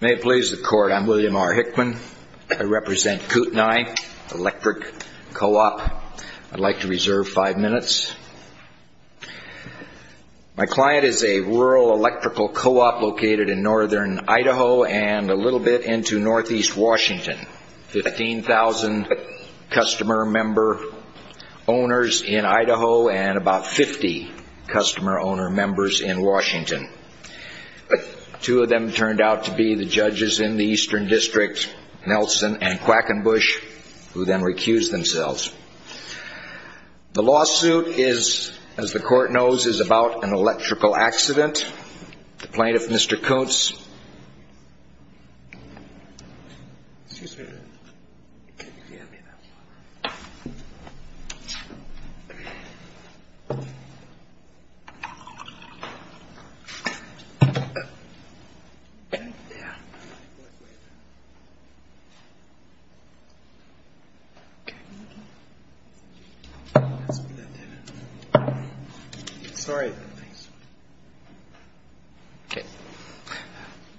May it please the court, I'm William R. Hickman. I represent Kootenai Electric Co-op. I'd like to reserve five minutes. My client is a rural electrical co-op located in northern Idaho and a little bit into northeast Washington. Fifteen thousand customer member owners in Two of them turned out to be the judges in the eastern district, Nelson and Quackenbush, who then recused themselves. The lawsuit is, as the court knows, is about an electrical accident. The plaintiff, Mr. Kuntz.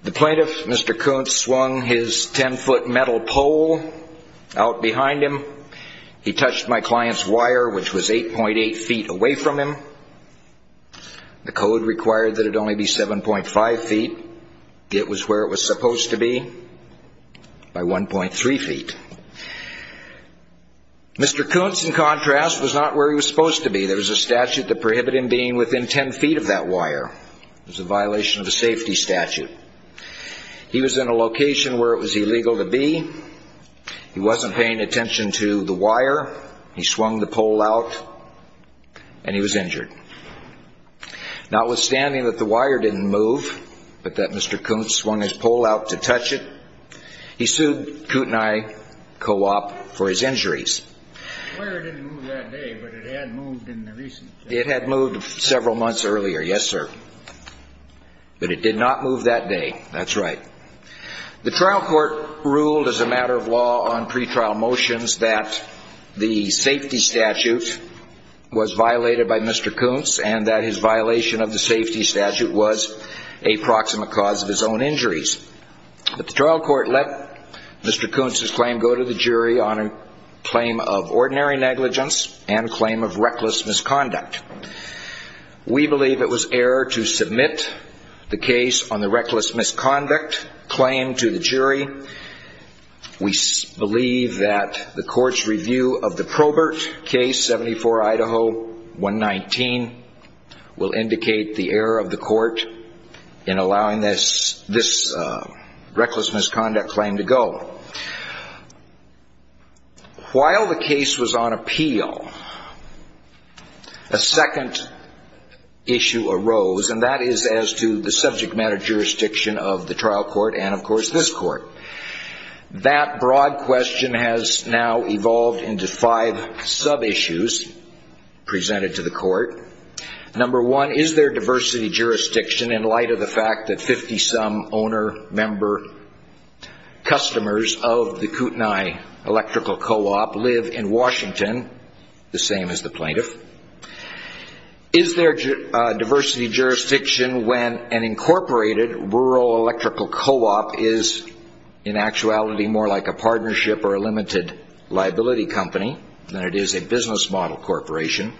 The plaintiff, Mr. Kuntz, swung his ten foot metal pole out behind him. He touched my client's wire which was 8.8 feet away from him. The code required that it only be 7.5 feet. It was where it was supposed to be, by 1.3 feet. Mr. Kuntz, in contrast, was not where he was supposed to be. There was a statute that prohibited him being within 10 feet of that wire. It was a violation of a safety statute. He was in a location where it was illegal to be. He wasn't paying attention to the wire. He swung the pole out and he was injured. Notwithstanding that the wire didn't move, but that Mr. Kuntz swung his pole out to touch it, he sued Kuntz and I, co-op, for his injuries. The wire didn't move that day, but it had moved in the recent days. It had moved several months earlier, yes, sir. But it did not move that day, that's right. The trial court ruled as a matter of law on pretrial motions that the safety statute was violated by Mr. Kuntz and that his violation of the safety statute was a proximate cause of his own injuries. But the trial court let Mr. Kuntz's claim go to the jury on a claim of ordinary negligence and a claim of reckless misconduct. We believe it was error to submit the case on the reckless misconduct claim to the jury. We believe that the court's review of the Probert case, 74 Idaho 119, will indicate the error of the court in allowing this reckless misconduct claim to go. While the case was on appeal, a second issue arose, and that is as to the subject matter jurisdiction of the trial court and, of course, this court. That broad question has now evolved into five sub-issues presented to the court. Number one, is there diversity jurisdiction in light of the fact that 50-some owner-member customers of the Kootenai Electrical Co-op live in Washington, the same as the plaintiff? Is there diversity jurisdiction when an incorporated rural electrical co-op is, in actuality, more like a partnership or a limited liability company than it is a business model corporation?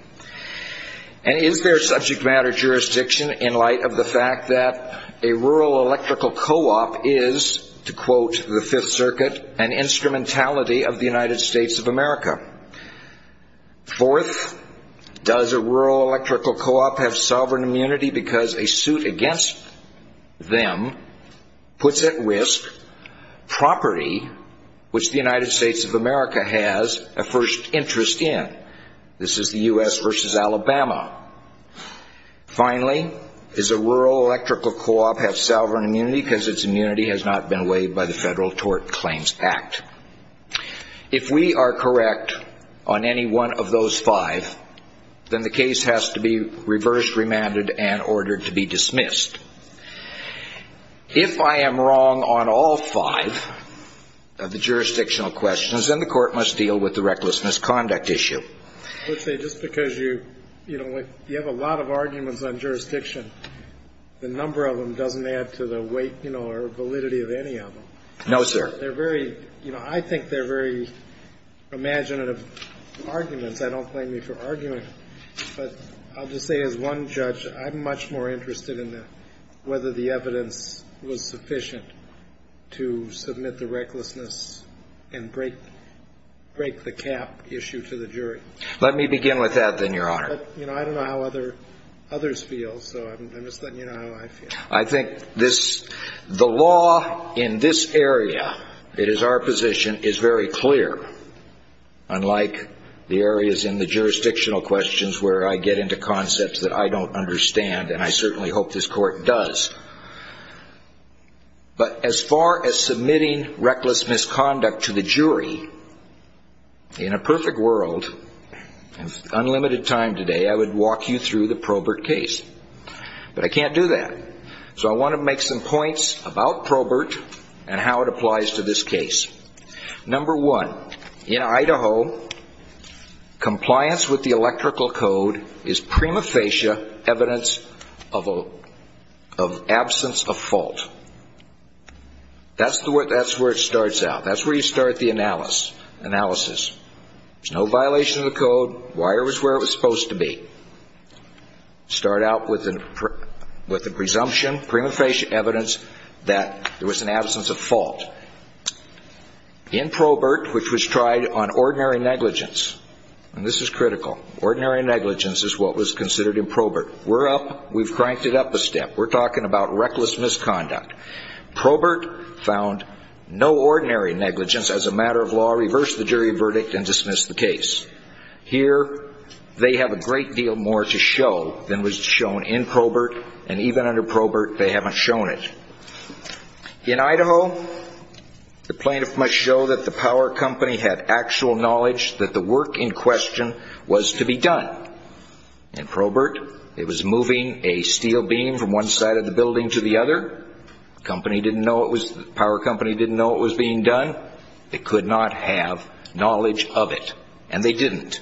And is there subject matter jurisdiction in light of the fact that a rural electrical co-op is, to quote the Fifth Circuit, an instrumentality of the United States of America? Fourth, does a rural electrical co-op have sovereign immunity because a suit against them puts at risk property which the United States of America has a first interest in? This is the U.S. versus Alabama. Finally, does a rural electrical co-op have sovereign immunity because its immunity has not been waived by the Federal Tort Claims Act? If we are correct on any one of those five, then the case has to be reversed, remanded, and ordered to be dismissed. If I am wrong on all five of the jurisdictional questions, then the court must deal with the reckless misconduct issue. I would say just because you have a lot of arguments on jurisdiction, the number of them doesn't add to the weight or validity of any of them. No, sir. They're very, you know, I think they're very imaginative arguments. I don't blame you for arguing. But I'll just say as one judge, I'm much more interested in whether the evidence was sufficient to submit the recklessness and break the cap issue to the jury. Let me begin with that, then, Your Honor. But, you know, I don't know how others feel, so I'm just letting you know how I feel. I think the law in this area, it is our position, is very clear, unlike the areas in the jurisdictional questions where I get into concepts that I don't understand, and I certainly hope this court does. But as far as submitting reckless misconduct to the jury, in a perfect world, in unlimited time today, I would walk you through the Probert case. But I can't do that. So I want to make some points about Probert and how it applies to this case. Number one, in Idaho, compliance with the electrical code is prima facie evidence of absence of fault. That's where it starts out. That's where you start the analysis. There's no violation of the code. Wire was where it was supposed to be. Start out with the presumption, prima facie evidence, that there was an absence of fault. In Probert, which was tried on ordinary negligence, and this is critical, ordinary negligence is what was considered in Probert. We're up, we've cranked it up a step. We're talking about reckless misconduct. Probert found no ordinary negligence as a matter of law, reversed the jury verdict, and dismissed the case. Here, they have a great deal more to show than was shown in Probert, and even under Probert, they haven't shown it. In Idaho, the plaintiff must show that the power company had actual knowledge that the work in question was to be done. In Probert, it was moving a steel beam from one side of the building to the other. The power company didn't know it was being done. They could not have knowledge of it, and they didn't.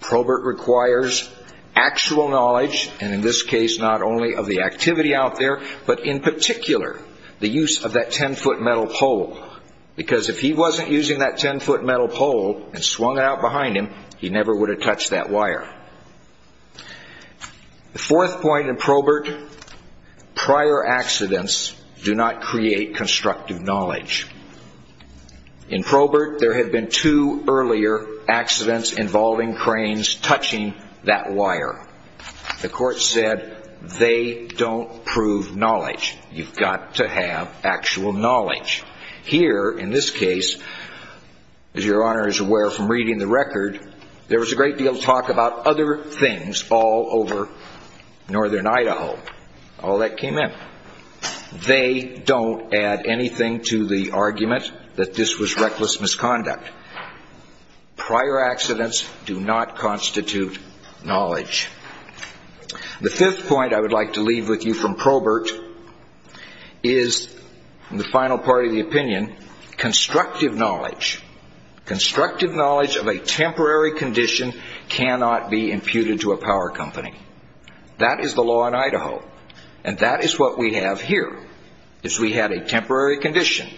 Probert requires actual knowledge, and in this case, not only of the activity out there, but in particular, the use of that 10-foot metal pole. Because if he wasn't using that 10-foot metal pole and swung it out behind him, he never would have touched that wire. The fourth point in Probert, prior accidents do not create constructive knowledge. In Probert, there had been two earlier accidents involving cranes touching that wire. The court said, they don't prove knowledge. You've got to have actual knowledge. Here, in this case, as your Honor is aware from reading the record, there was a great deal of talk about other things all over northern Idaho. All that came in. They don't add anything to the argument that this was reckless misconduct. Prior accidents do not constitute knowledge. The fifth point I would like to leave with you from Probert is the final part of the opinion, constructive knowledge. Constructive knowledge of a temporary condition cannot be imputed to a power company. That is the law in Idaho, and that is what we have here. If we had a temporary condition,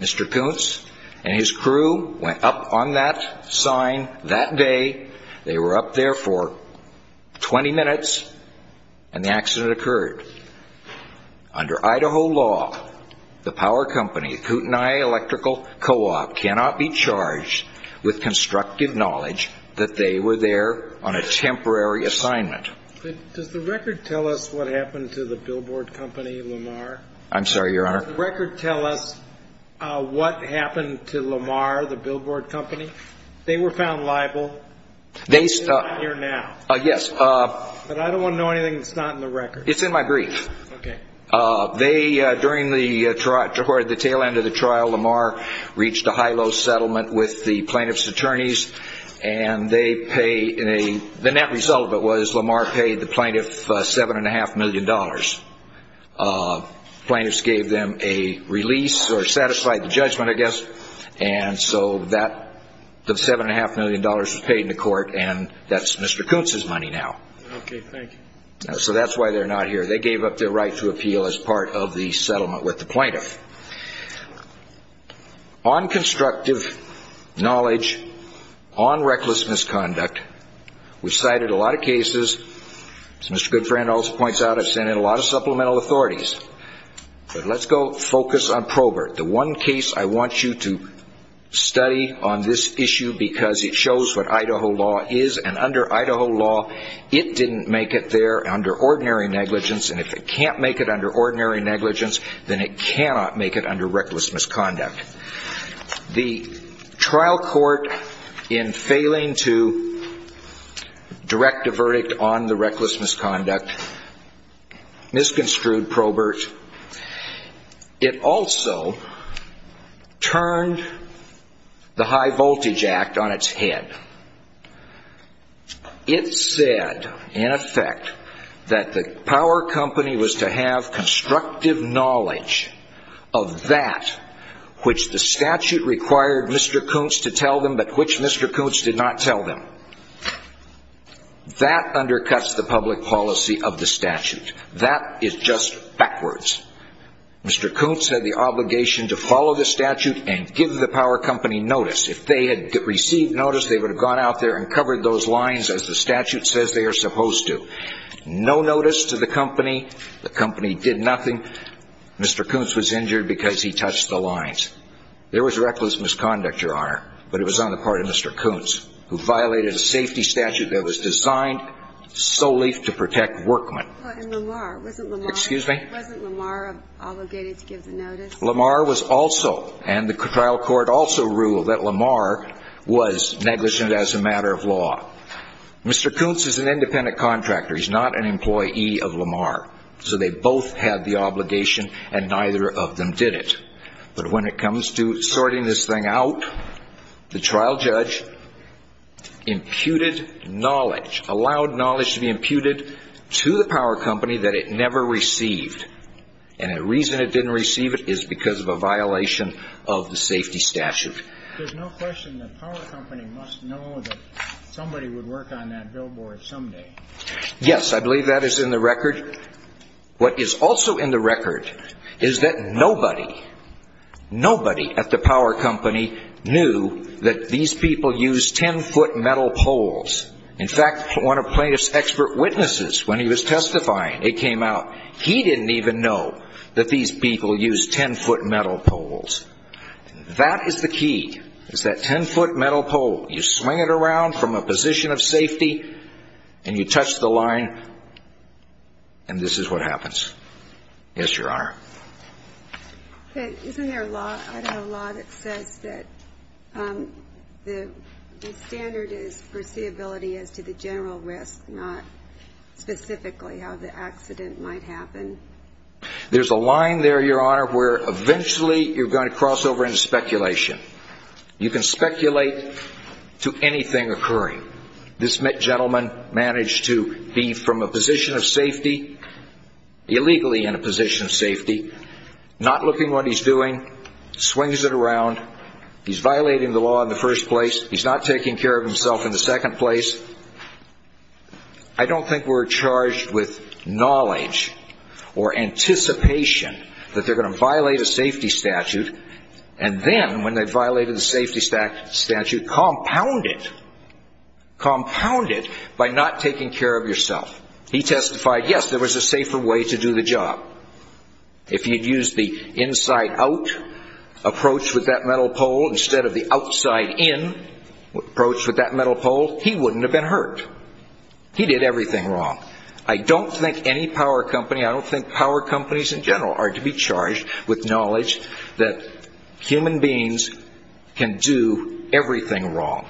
Mr. Koontz and his crew went up on that sign that day. They were up there for 20 minutes, and the accident occurred. Under Idaho law, the power company, Kootenai Electrical Co-op, cannot be charged with constructive knowledge that they were there on a temporary assignment. Does the record tell us what happened to the billboard company, Lamar? I'm sorry, Your Honor? Does the record tell us what happened to Lamar, the billboard company? They were found liable, but they're not here now. Yes. But I don't want to know anything that's not in the record. It's in my brief. Okay. During the tail end of the trial, Lamar reached a high-low settlement with the plaintiff's attorneys, and the net result of it was Lamar paid the plaintiff $7.5 million. The plaintiffs gave them a release or satisfied the judgment, I guess, and so that $7.5 million was paid in the court, and that's Mr. Koontz's money now. Okay. Thank you. So that's why they're not here. They gave up their right to appeal as part of the settlement with the plaintiff. On constructive knowledge, on reckless misconduct, we've cited a lot of cases. As Mr. Goodfriend also points out, I've sent in a lot of supplemental authorities. But let's go focus on Probert. The one case I want you to study on this issue because it shows what Idaho law is, and under Idaho law, it didn't make it there under ordinary negligence, and if it can't make it under ordinary negligence, then it cannot make it under reckless misconduct. The trial court, in failing to direct a verdict on the reckless misconduct, misconstrued Probert. It also turned the High Voltage Act on its head. It said, in effect, that the power company was to have constructive knowledge of that which the statute required Mr. Koontz to tell them but which Mr. Koontz did not tell them. That undercuts the public policy of the statute. That is just backwards. Mr. Koontz had the obligation to follow the statute and give the power company notice. If they had received notice, they would have gone out there and covered those lines as the statute says they are supposed to. No notice to the company. The company did nothing. Mr. Koontz was injured because he touched the lines. There was reckless misconduct, Your Honor, but it was on the part of Mr. Koontz, who violated a safety statute that was designed solely to protect workmen. And Lamar, wasn't Lamar? Excuse me? Wasn't Lamar obligated to give the notice? Lamar was also, and the trial court also ruled that Lamar was negligent as a matter of law. Mr. Koontz is an independent contractor. He's not an employee of Lamar. So they both had the obligation and neither of them did it. But when it comes to sorting this thing out, the trial judge imputed knowledge, allowed knowledge to be imputed to the power company that it never received. And the reason it didn't receive it is because of a violation of the safety statute. There's no question the power company must know that somebody would work on that billboard someday. Yes, I believe that is in the record. What is also in the record is that nobody, nobody at the power company knew that these people used 10-foot metal poles. In fact, one of Plaintiff's expert witnesses, when he was testifying, it came out, he didn't even know that these people used 10-foot metal poles. That is the key, is that 10-foot metal pole. You swing it around from a position of safety and you touch the line and this is what happens. Yes, Your Honor. Isn't there a law that says that the standard is foreseeability as to the general risk, not specifically how the accident might happen? There's a line there, Your Honor, where eventually you're going to cross over into speculation. You can speculate to anything occurring. This gentleman managed to be from a position of safety, illegally in a position of safety, not looking what he's doing, swings it around. He's violating the law in the first place. He's not taking care of himself in the second place. I don't think we're charged with knowledge or anticipation that they're going to violate a safety statute and then, when they've violated the safety statute, compound it. Compound it by not taking care of yourself. He testified, yes, there was a safer way to do the job. If he had used the inside-out approach with that metal pole instead of the outside-in approach with that metal pole, he wouldn't have been hurt. He did everything wrong. I don't think any power company, I don't think power companies in general, are to be charged with knowledge that human beings can do everything wrong.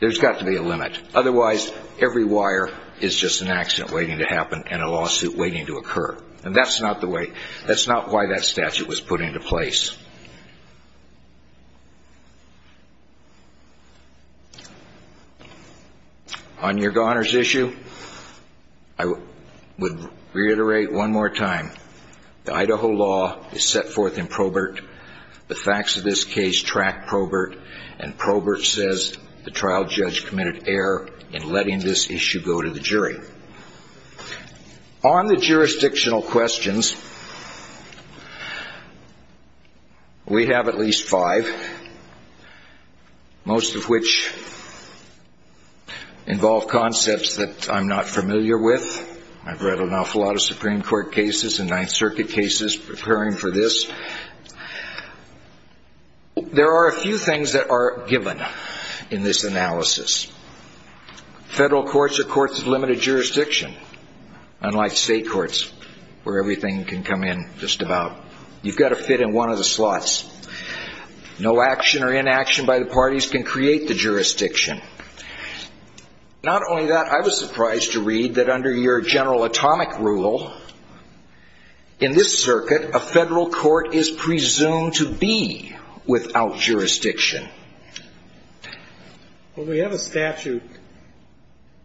There's got to be a limit. Otherwise, every wire is just an accident waiting to happen and a lawsuit waiting to occur. And that's not the way, that's not why that statute was put into place. On your Garner's issue, I would reiterate one more time, the Idaho law is set forth in Probert. The facts of this case track Probert, and Probert says the trial judge committed error in letting this issue go to the jury. On the jurisdictional questions, we have at least five, most of which involve concepts that I'm not familiar with. I've read an awful lot of Supreme Court cases and Ninth Circuit cases preparing for this. There are a few things that are given in this analysis. Federal courts are courts of limited jurisdiction, unlike state courts where everything can come in just about. You've got to fit in one of the slots. No action or inaction by the parties can create the jurisdiction. Not only that, I was surprised to read that under your general atomic rule, in this circuit, a federal court is presumed to be without jurisdiction. Well, we have a statute,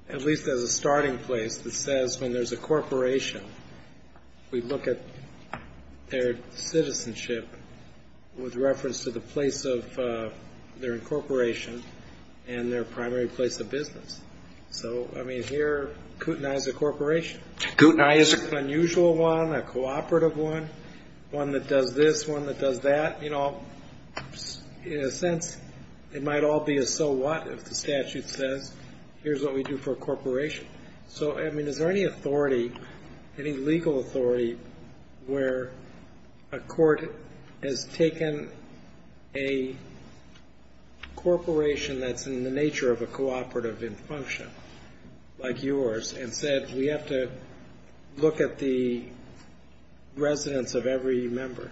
at least as a starting place, that says when there's a corporation, we look at their citizenship with reference to the place of their incorporation and their primary place of business. So, I mean, here, Kootenai is a corporation. Kootenai is an unusual one, a cooperative one, one that does this, one that does that. But, you know, in a sense, it might all be a so what if the statute says here's what we do for a corporation. So, I mean, is there any authority, any legal authority, where a court has taken a corporation that's in the nature of a cooperative in function, like yours, and said we have to look at the residence of every member?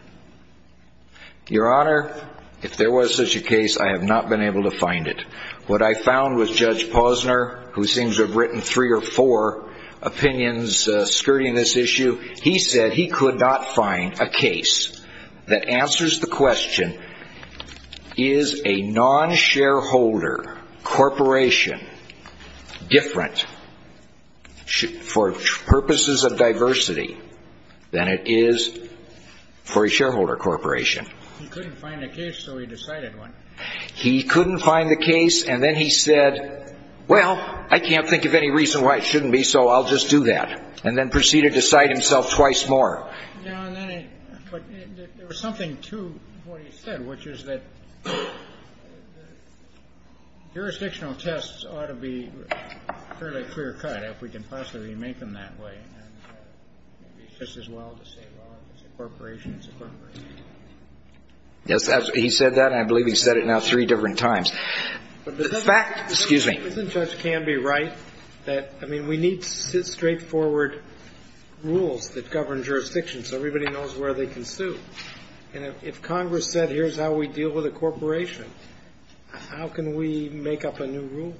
Your Honor, if there was such a case, I have not been able to find it. What I found was Judge Posner, who seems to have written three or four opinions skirting this issue, he said he could not find a case that answers the question, is a non-shareholder corporation different for purposes of diversity than it is for a shareholder corporation? He couldn't find a case, so he decided one. He couldn't find the case, and then he said, well, I can't think of any reason why it shouldn't be, so I'll just do that, and then proceeded to cite himself twice more. But there was something to what he said, which is that jurisdictional tests ought to be fairly clear-cut, if we can possibly make them that way, and it would be just as well to say, well, if it's a corporation, it's a corporation. Yes, he said that, and I believe he said it now three different times. But doesn't Judge Canby write that, I mean, we need straightforward rules that govern jurisdictions so everybody knows where they can sue? If Congress said here's how we deal with a corporation, how can we make up a new rule?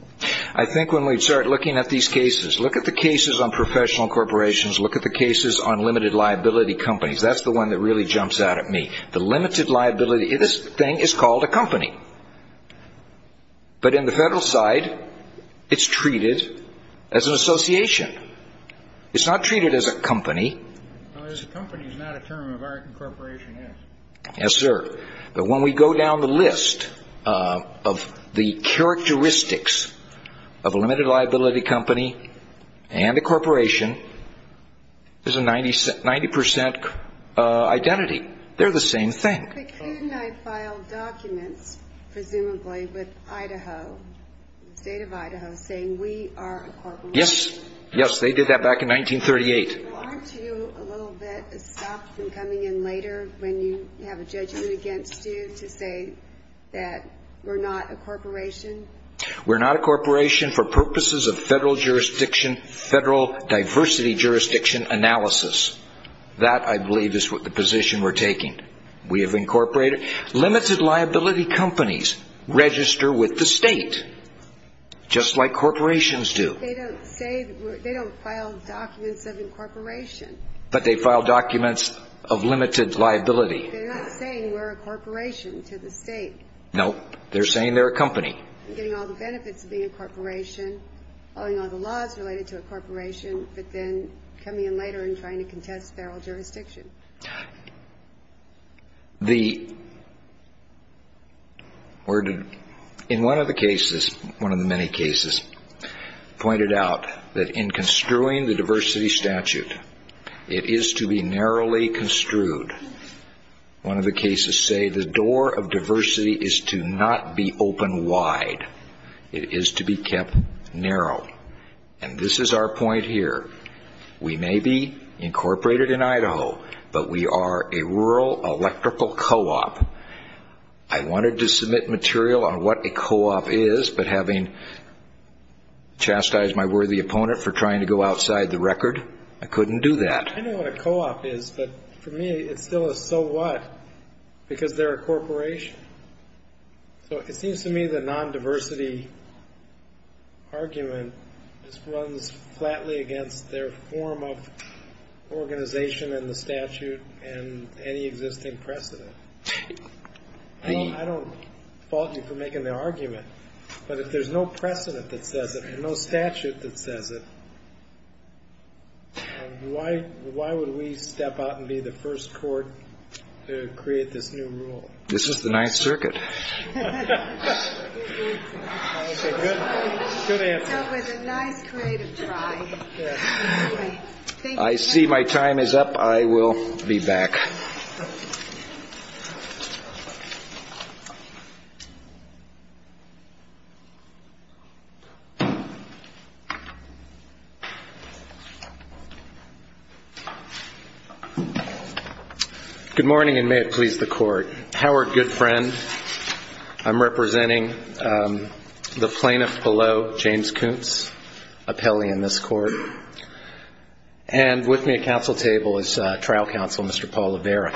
I think when we start looking at these cases, look at the cases on professional corporations, look at the cases on limited liability companies. That's the one that really jumps out at me. The limited liability, this thing is called a company, but in the federal side, it's treated as an association. It's not treated as a company. A company is not a term of our incorporation, yes. Yes, sir. But when we go down the list of the characteristics of a limited liability company and a corporation, there's a 90 percent identity. They're the same thing. But couldn't I file documents, presumably, with Idaho, the state of Idaho, saying we are a corporation? Yes. Yes, they did that back in 1938. Well, aren't you a little bit stopped from coming in later when you have a judgment against you to say that we're not a corporation? We're not a corporation for purposes of federal jurisdiction, federal diversity jurisdiction analysis. That, I believe, is the position we're taking. We have incorporated. Limited liability companies register with the state, just like corporations do. They don't file documents of incorporation. But they file documents of limited liability. They're not saying we're a corporation to the state. No. They're saying they're a company. Getting all the benefits of being a corporation, following all the laws related to a corporation, but then coming in later and trying to contest federal jurisdiction. The – in one of the cases, one of the many cases, pointed out that in construing the diversity statute, it is to be narrowly construed. One of the cases say the door of diversity is to not be open wide. It is to be kept narrow. And this is our point here. We may be incorporated in Idaho, but we are a rural electrical co-op. I wanted to submit material on what a co-op is, but having chastised my worthy opponent for trying to go outside the record, I couldn't do that. I know what a co-op is, but for me it's still a so what because they're a corporation. So it seems to me the non-diversity argument just runs flatly against their form of organization and the statute and any existing precedent. I don't fault you for making the argument, but if there's no precedent that says it and no statute that says it, why would we step out and be the first court to create this new rule? This is the Ninth Circuit. Okay, good answer. So with a nice creative try. I see my time is up. I will be back. Good morning, and may it please the Court. I'm Howard Goodfriend. I'm representing the plaintiff below, James Kuntz, appellee in this court. And with me at counsel table is trial counsel, Mr. Paul Levera.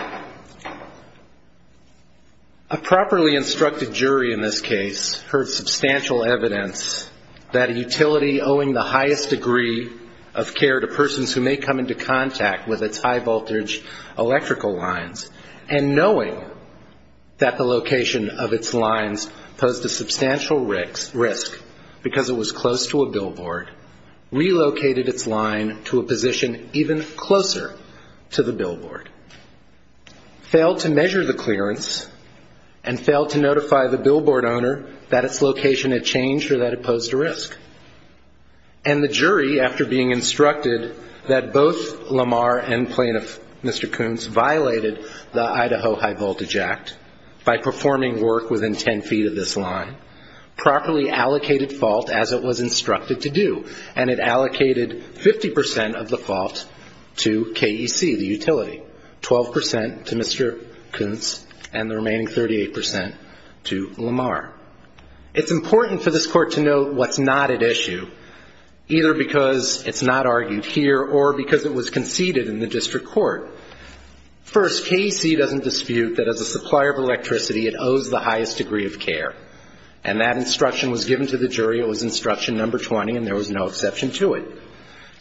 A properly instructed jury in this case heard substantial evidence that a utility owing the highest degree of care to persons who may come into contact with its high-voltage electrical lines, and knowing that the location of its lines posed a substantial risk because it was close to a billboard, relocated its line to a position even closer to the billboard, failed to measure the clearance, and failed to notify the billboard owner that its location had changed or that it posed a risk. And the jury, after being instructed that both Lamar and plaintiff, Mr. Kuntz, violated the Idaho High-Voltage Act by performing work within ten feet of this line, properly allocated fault as it was instructed to do, and it allocated 50 percent of the fault to KEC, the utility, 12 percent to Mr. Kuntz, and the remaining 38 percent to Lamar. It's important for this Court to note what's not at issue, either because it's not argued here or because it was conceded in the district court. First, KEC doesn't dispute that as a supplier of electricity, it owes the highest degree of care. And that instruction was given to the jury. It was instruction number 20, and there was no exception to it.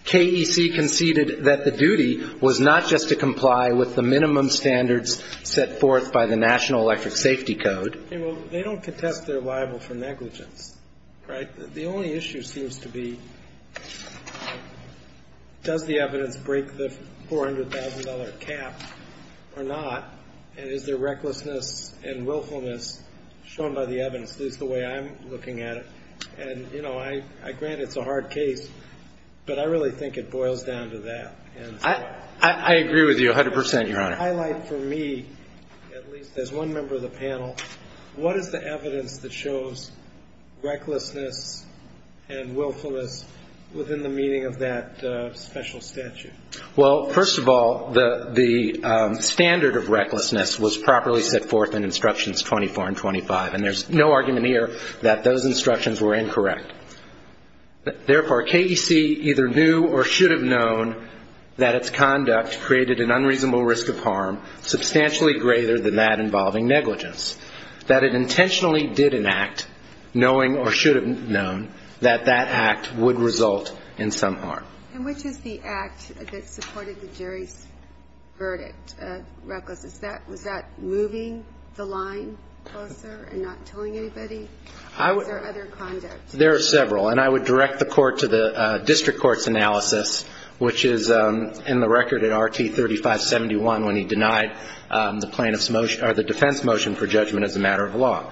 KEC conceded that the duty was not just to comply with the minimum standards set forth by the National Electric Safety Code. They don't contest their libel for negligence, right? The only issue seems to be does the evidence break the $400,000 cap or not, and is there recklessness and willfulness shown by the evidence, at least the way I'm looking at it. And, you know, I grant it's a hard case, but I really think it boils down to that. I agree with you 100 percent, Your Honor. Can you highlight for me, at least as one member of the panel, what is the evidence that shows recklessness and willfulness within the meaning of that special statute? Well, first of all, the standard of recklessness was properly set forth in instructions 24 and 25, and there's no argument here that those instructions were incorrect. Therefore, KEC either knew or should have known that its conduct created an unreasonable risk of harm substantially greater than that involving negligence, that it intentionally did an act knowing or should have known that that act would result in some harm. And which is the act that supported the jury's verdict of recklessness? Was that moving the line closer and not telling anybody? There are several, and I would direct the court to the district court's analysis, which is in the record in RT 3571 when he denied the defense motion for judgment as a matter of law.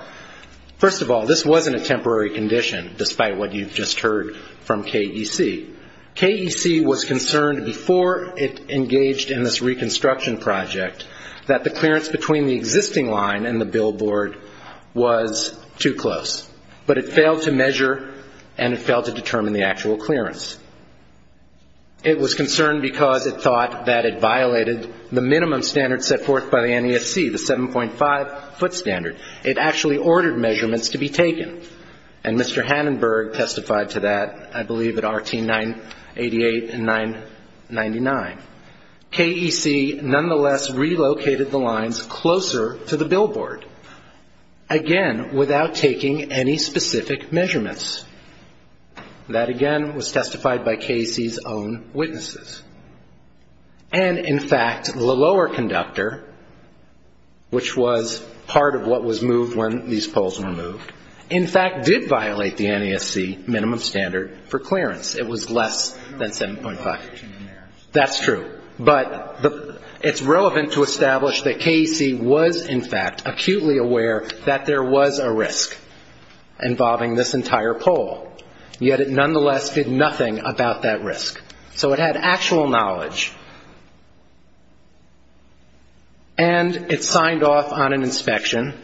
First of all, this wasn't a temporary condition, despite what you've just heard from KEC. KEC was concerned before it engaged in this reconstruction project that the clearance between the existing line and the billboard was too close. But it failed to measure and it failed to determine the actual clearance. It was concerned because it thought that it violated the minimum standard set forth by the NESC, the 7.5-foot standard. It actually ordered measurements to be taken, and Mr. Hanenberg testified to that, I believe, at RT 988 and 999. KEC nonetheless relocated the lines closer to the billboard, again, without taking any specific measurements. That, again, was testified by KEC's own witnesses. And, in fact, the lower conductor, which was part of what was moved when these poles were moved, in fact did violate the NESC minimum standard for clearance. It was less than 7.5. That's true. But it's relevant to establish that KEC was, in fact, acutely aware that there was a risk involving this entire pole. Yet it nonetheless did nothing about that risk. So it had actual knowledge. And it signed off on an inspection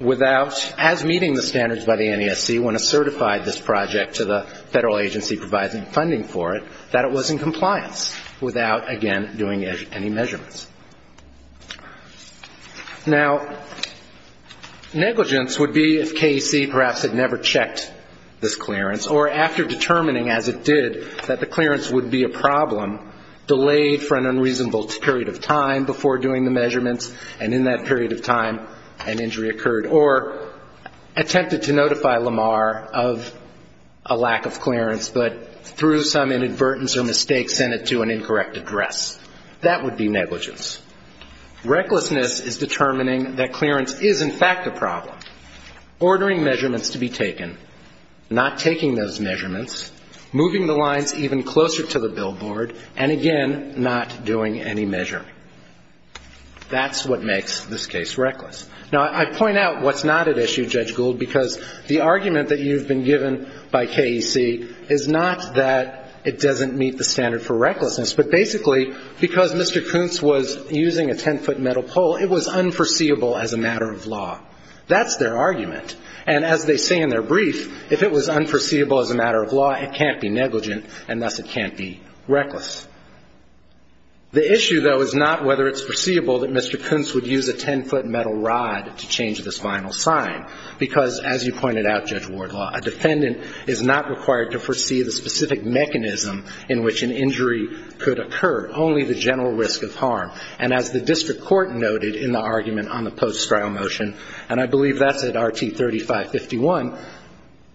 without, as meeting the standards by the NESC, to the federal agency providing funding for it, that it was in compliance without, again, doing any measurements. Now, negligence would be if KEC perhaps had never checked this clearance, or after determining, as it did, that the clearance would be a problem, delayed for an unreasonable period of time before doing the measurements, and in that period of time an injury occurred, or attempted to notify Lamar of a lack of clearance, but through some inadvertence or mistake sent it to an incorrect address. That would be negligence. Recklessness is determining that clearance is, in fact, a problem, ordering measurements to be taken, not taking those measurements, moving the lines even closer to the billboard, and, again, not doing any measuring. That's what makes this case reckless. Now, I point out what's not at issue, Judge Gould, because the argument that you've been given by KEC is not that it doesn't meet the standard for recklessness, but basically because Mr. Kuntz was using a 10-foot metal pole, it was unforeseeable as a matter of law. That's their argument. And as they say in their brief, if it was unforeseeable as a matter of law, it can't be negligent, and thus it can't be reckless. The issue, though, is not whether it's foreseeable that Mr. Kuntz would use a 10-foot metal rod to change this final sign, because, as you pointed out, Judge Wardlaw, a defendant is not required to foresee the specific mechanism in which an injury could occur, only the general risk of harm. And as the district court noted in the argument on the post-trial motion, and I believe that's at RT 3551,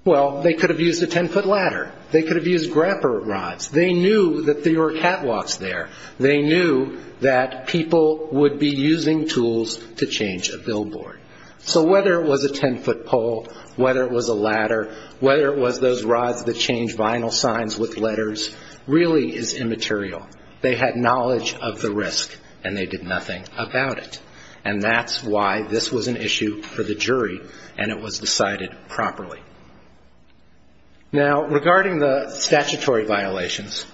well, they could have used a 10-foot ladder. They could have used grapper rods. They knew that there were catwalks there. They knew that people would be using tools to change a billboard. So whether it was a 10-foot pole, whether it was a ladder, whether it was those rods that change final signs with letters, really is immaterial. They had knowledge of the risk, and they did nothing about it. And that's why this was an issue for the jury, and it was decided properly. Now, regarding the statutory violations,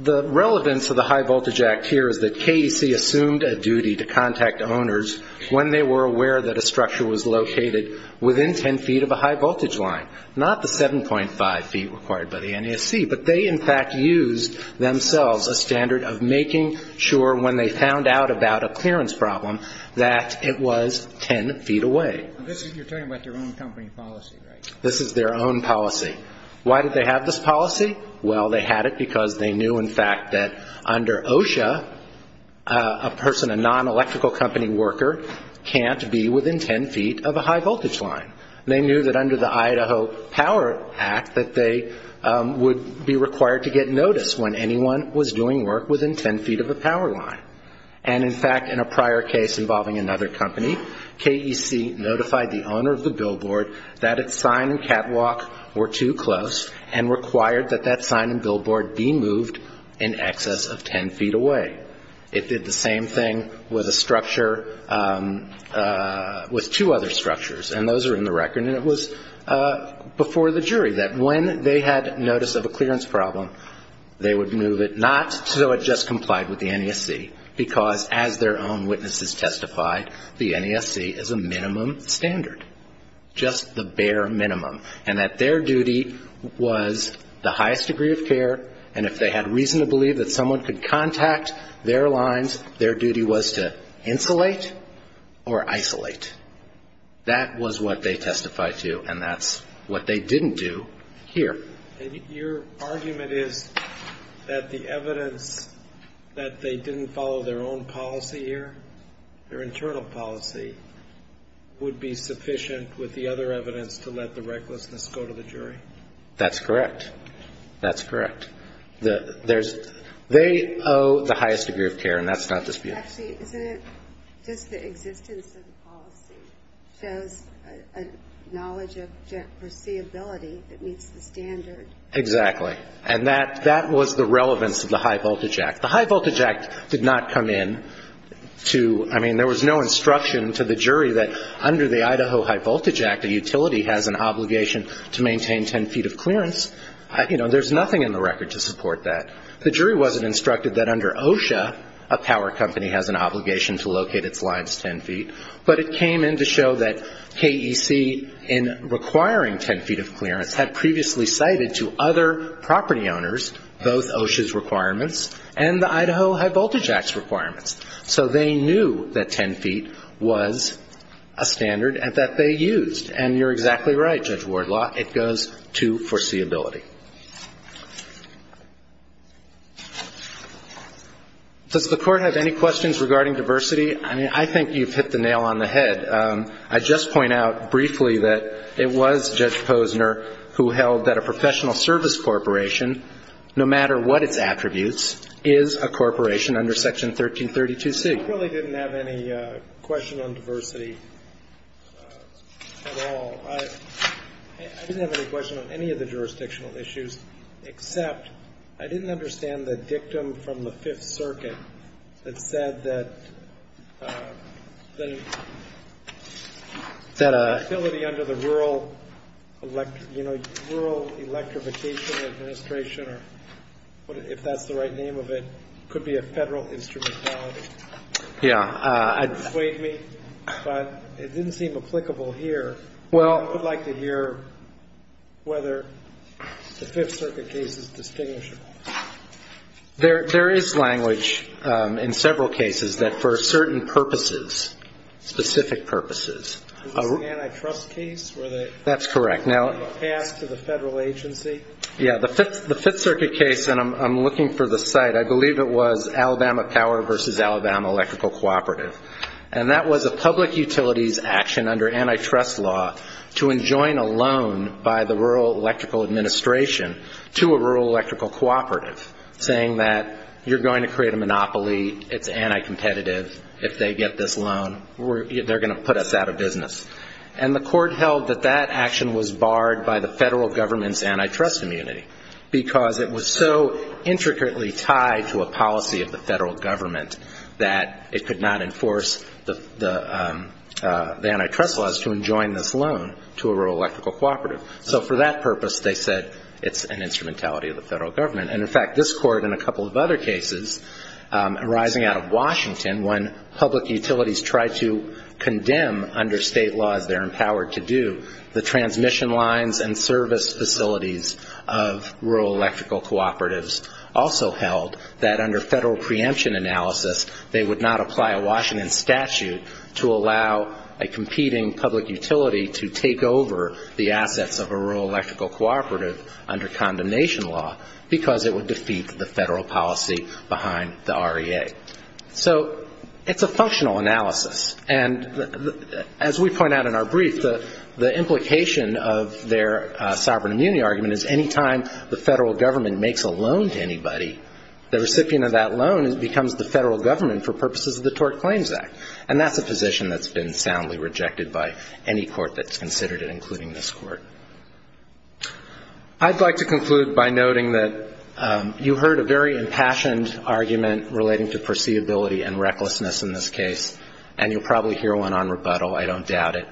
the relevance of the High Voltage Act here is that KDC assumed a duty to contact owners when they were aware that a structure was located within 10 feet of a high-voltage line, not the 7.5 feet required by the NESC. But they, in fact, used themselves a standard of making sure, when they found out about a clearance problem, that it was 10 feet away. You're talking about their own company policy, right? This is their own policy. Why did they have this policy? Well, they had it because they knew, in fact, that under OSHA, a person, a non-electrical company worker, can't be within 10 feet of a high-voltage line. They knew that under the Idaho Power Act that they would be required to get notice when anyone was doing work within 10 feet of a power line. And, in fact, in a prior case involving another company, KDC notified the owner of the billboard that its sign and catwalk were too close and required that that sign and billboard be moved in excess of 10 feet away. It did the same thing with a structure, with two other structures, and those are in the record, and it was before the jury that when they had notice of a clearance problem, they would move it, not so it just complied with the NESC, because as their own witnesses testified, the NESC is a minimum standard, just the bare minimum, and that their duty was the highest degree of care, and if they had reason to believe that someone could contact their lines, their duty was to insulate or isolate. That was what they testified to, and that's what they didn't do here. Your argument is that the evidence that they didn't follow their own policy here, their internal policy, would be sufficient with the other evidence to let the recklessness go to the jury? That's correct. That's correct. They owe the highest degree of care, and that's not disputed. Actually, isn't it just the existence of the policy shows a knowledge of perceivability that meets the standard? Exactly, and that was the relevance of the High Voltage Act. The High Voltage Act did not come in to, I mean, there was no instruction to the jury that under the Idaho High Voltage Act, a utility has an obligation to maintain 10 feet of clearance. You know, there's nothing in the record to support that. The jury wasn't instructed that under OSHA, a power company has an obligation to locate its lines 10 feet, but it came in to show that KEC, in requiring 10 feet of clearance, had previously cited to other property owners both OSHA's requirements and the Idaho High Voltage Act's requirements. So they knew that 10 feet was a standard that they used, and you're exactly right, Judge Wardlaw, it goes to foreseeability. Does the Court have any questions regarding diversity? I mean, I think you've hit the nail on the head. I'd just point out briefly that it was Judge Posner who held that a professional service corporation, no matter what its attributes, is a corporation under Section 1332C. I really didn't have any question on diversity at all. I didn't have any question on any of the jurisdictional issues, except I didn't understand the dictum from the Fifth Circuit that said that the ability under the Rural Electrification Administration, if that's the right name of it, could be a federal instrumentality. It persuaded me, but it didn't seem applicable here. I would like to hear whether the Fifth Circuit case is distinguishable. There is language in several cases that for certain purposes, specific purposes. Is this an antitrust case? That's correct. Passed to the federal agency? Yeah, the Fifth Circuit case, and I'm looking for the site, I believe it was Alabama Power versus Alabama Electrical Cooperative, and that was a public utilities action under antitrust law to enjoin a loan by the Rural Electrical Administration to a rural electrical cooperative, saying that you're going to create a monopoly, it's anticompetitive, if they get this loan, they're going to put us out of business. And the court held that that action was barred by the federal government's antitrust immunity because it was so intricately tied to a policy of the federal government that it could not enforce the antitrust laws to enjoin this loan to a rural electrical cooperative. So for that purpose, they said it's an instrumentality of the federal government. And, in fact, this court in a couple of other cases arising out of Washington, when public utilities tried to condemn under state laws they're empowered to do, the transmission lines and service facilities of rural electrical cooperatives also held that under federal preemption analysis they would not apply a Washington statute to allow a competing public utility to take over the assets of a rural electrical cooperative under condemnation law because it would defeat the federal policy behind the REA. So it's a functional analysis. And as we point out in our brief, the implication of their sovereign immunity argument is that any time the federal government makes a loan to anybody, the recipient of that loan becomes the federal government for purposes of the Tort Claims Act. And that's a position that's been soundly rejected by any court that's considered it, including this court. I'd like to conclude by noting that you heard a very impassioned argument relating to perceivability and recklessness in this case, and you'll probably hear one on rebuttal, I don't doubt it.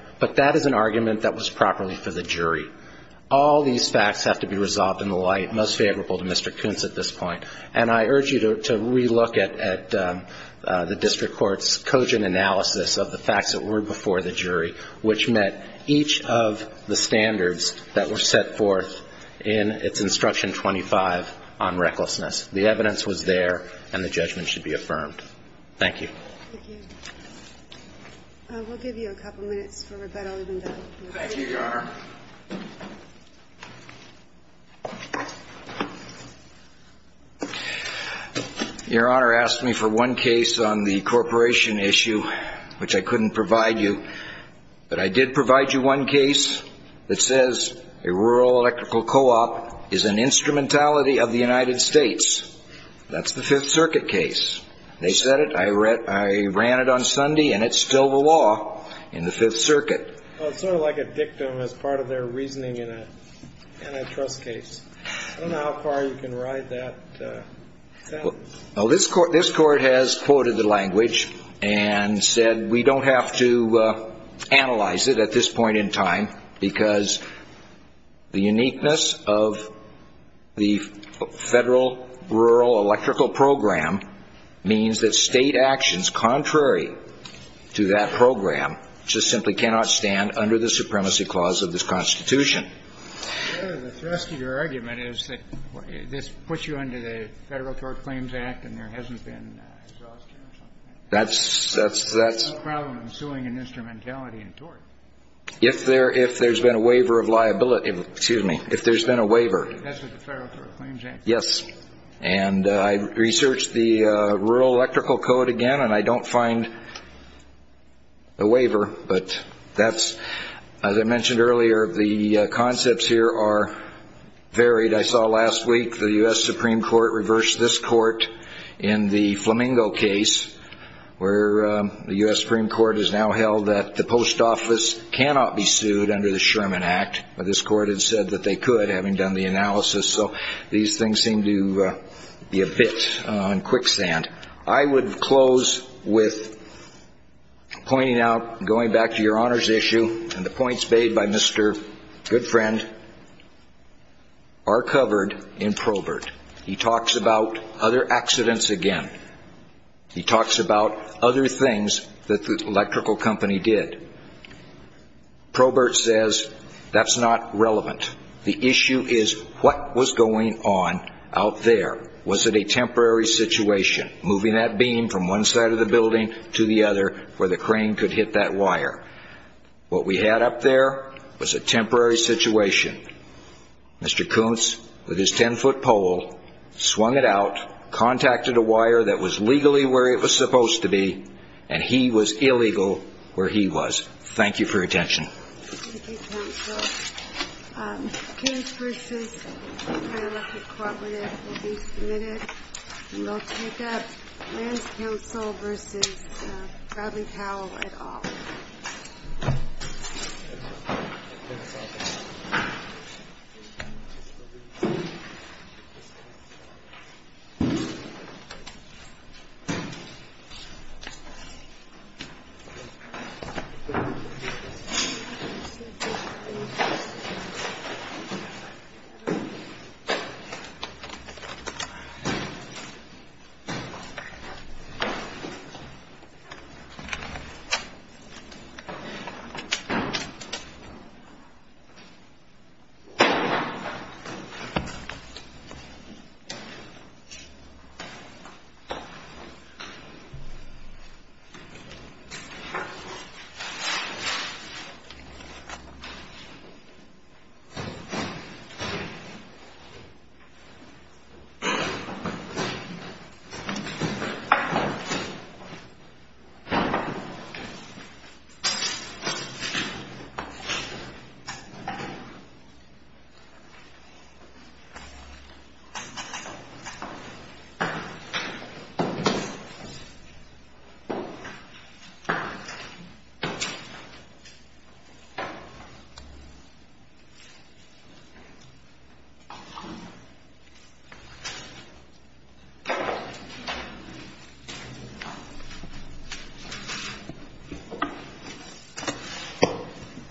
All these facts have to be resolved in the light most favorable to Mr. Kuntz at this point. And I urge you to relook at the district court's cogent analysis of the facts that were before the jury, which met each of the standards that were set forth in its Instruction 25 on recklessness. The evidence was there, and the judgment should be affirmed. Thank you. Thank you. We'll give you a couple minutes for rebuttal. Thank you, Your Honor. Your Honor asked me for one case on the corporation issue, which I couldn't provide you. But I did provide you one case that says a rural electrical co-op is an instrumentality of the United States. That's the Fifth Circuit case. They said it. I ran it on Sunday, and it's still the law in the Fifth Circuit. It's sort of like a dictum as part of their reasoning in an antitrust case. I don't know how far you can ride that sentence. Well, this Court has quoted the language and said we don't have to analyze it at this point in time because the uniqueness of the federal rural electrical program means that state actions contrary to that program just simply cannot stand under the supremacy clause of this Constitution. Your Honor, the thrust of your argument is that this puts you under the Federal Tort Claims Act and there hasn't been exhaustion or something like that. That's... There's no problem in suing an instrumentality in tort. If there's been a waiver of liability. Excuse me. If there's been a waiver. That's with the Federal Tort Claims Act. Yes. And I researched the Rural Electrical Code again, and I don't find a waiver. But that's... As I mentioned earlier, the concepts here are varied. I saw last week the U.S. Supreme Court reversed this court in the Flamingo case where the U.S. Supreme Court has now held that the post office cannot be sued under the Sherman Act. But this Court had said that they could, having done the analysis. So these things seem to be a bit on quicksand. I would close with pointing out, going back to your Honor's issue, and the points made by Mr. Goodfriend are covered in Probert. He talks about other accidents again. He talks about other things that the electrical company did. Probert says that's not relevant. The issue is what was going on out there. Was it a temporary situation, moving that beam from one side of the building to the other, where the crane could hit that wire? What we had up there was a temporary situation. Mr. Kuntz, with his 10-foot pole, swung it out, contacted a wire that was legally where it was supposed to be, and he was illegal where he was. Thank you for your attention. Thank you, counsel. The case versus Fairmarket Cooperative will be submitted. We will take up Mann's Counsel v. Bradley Powell et al. Thank you. Thank you. Thank you.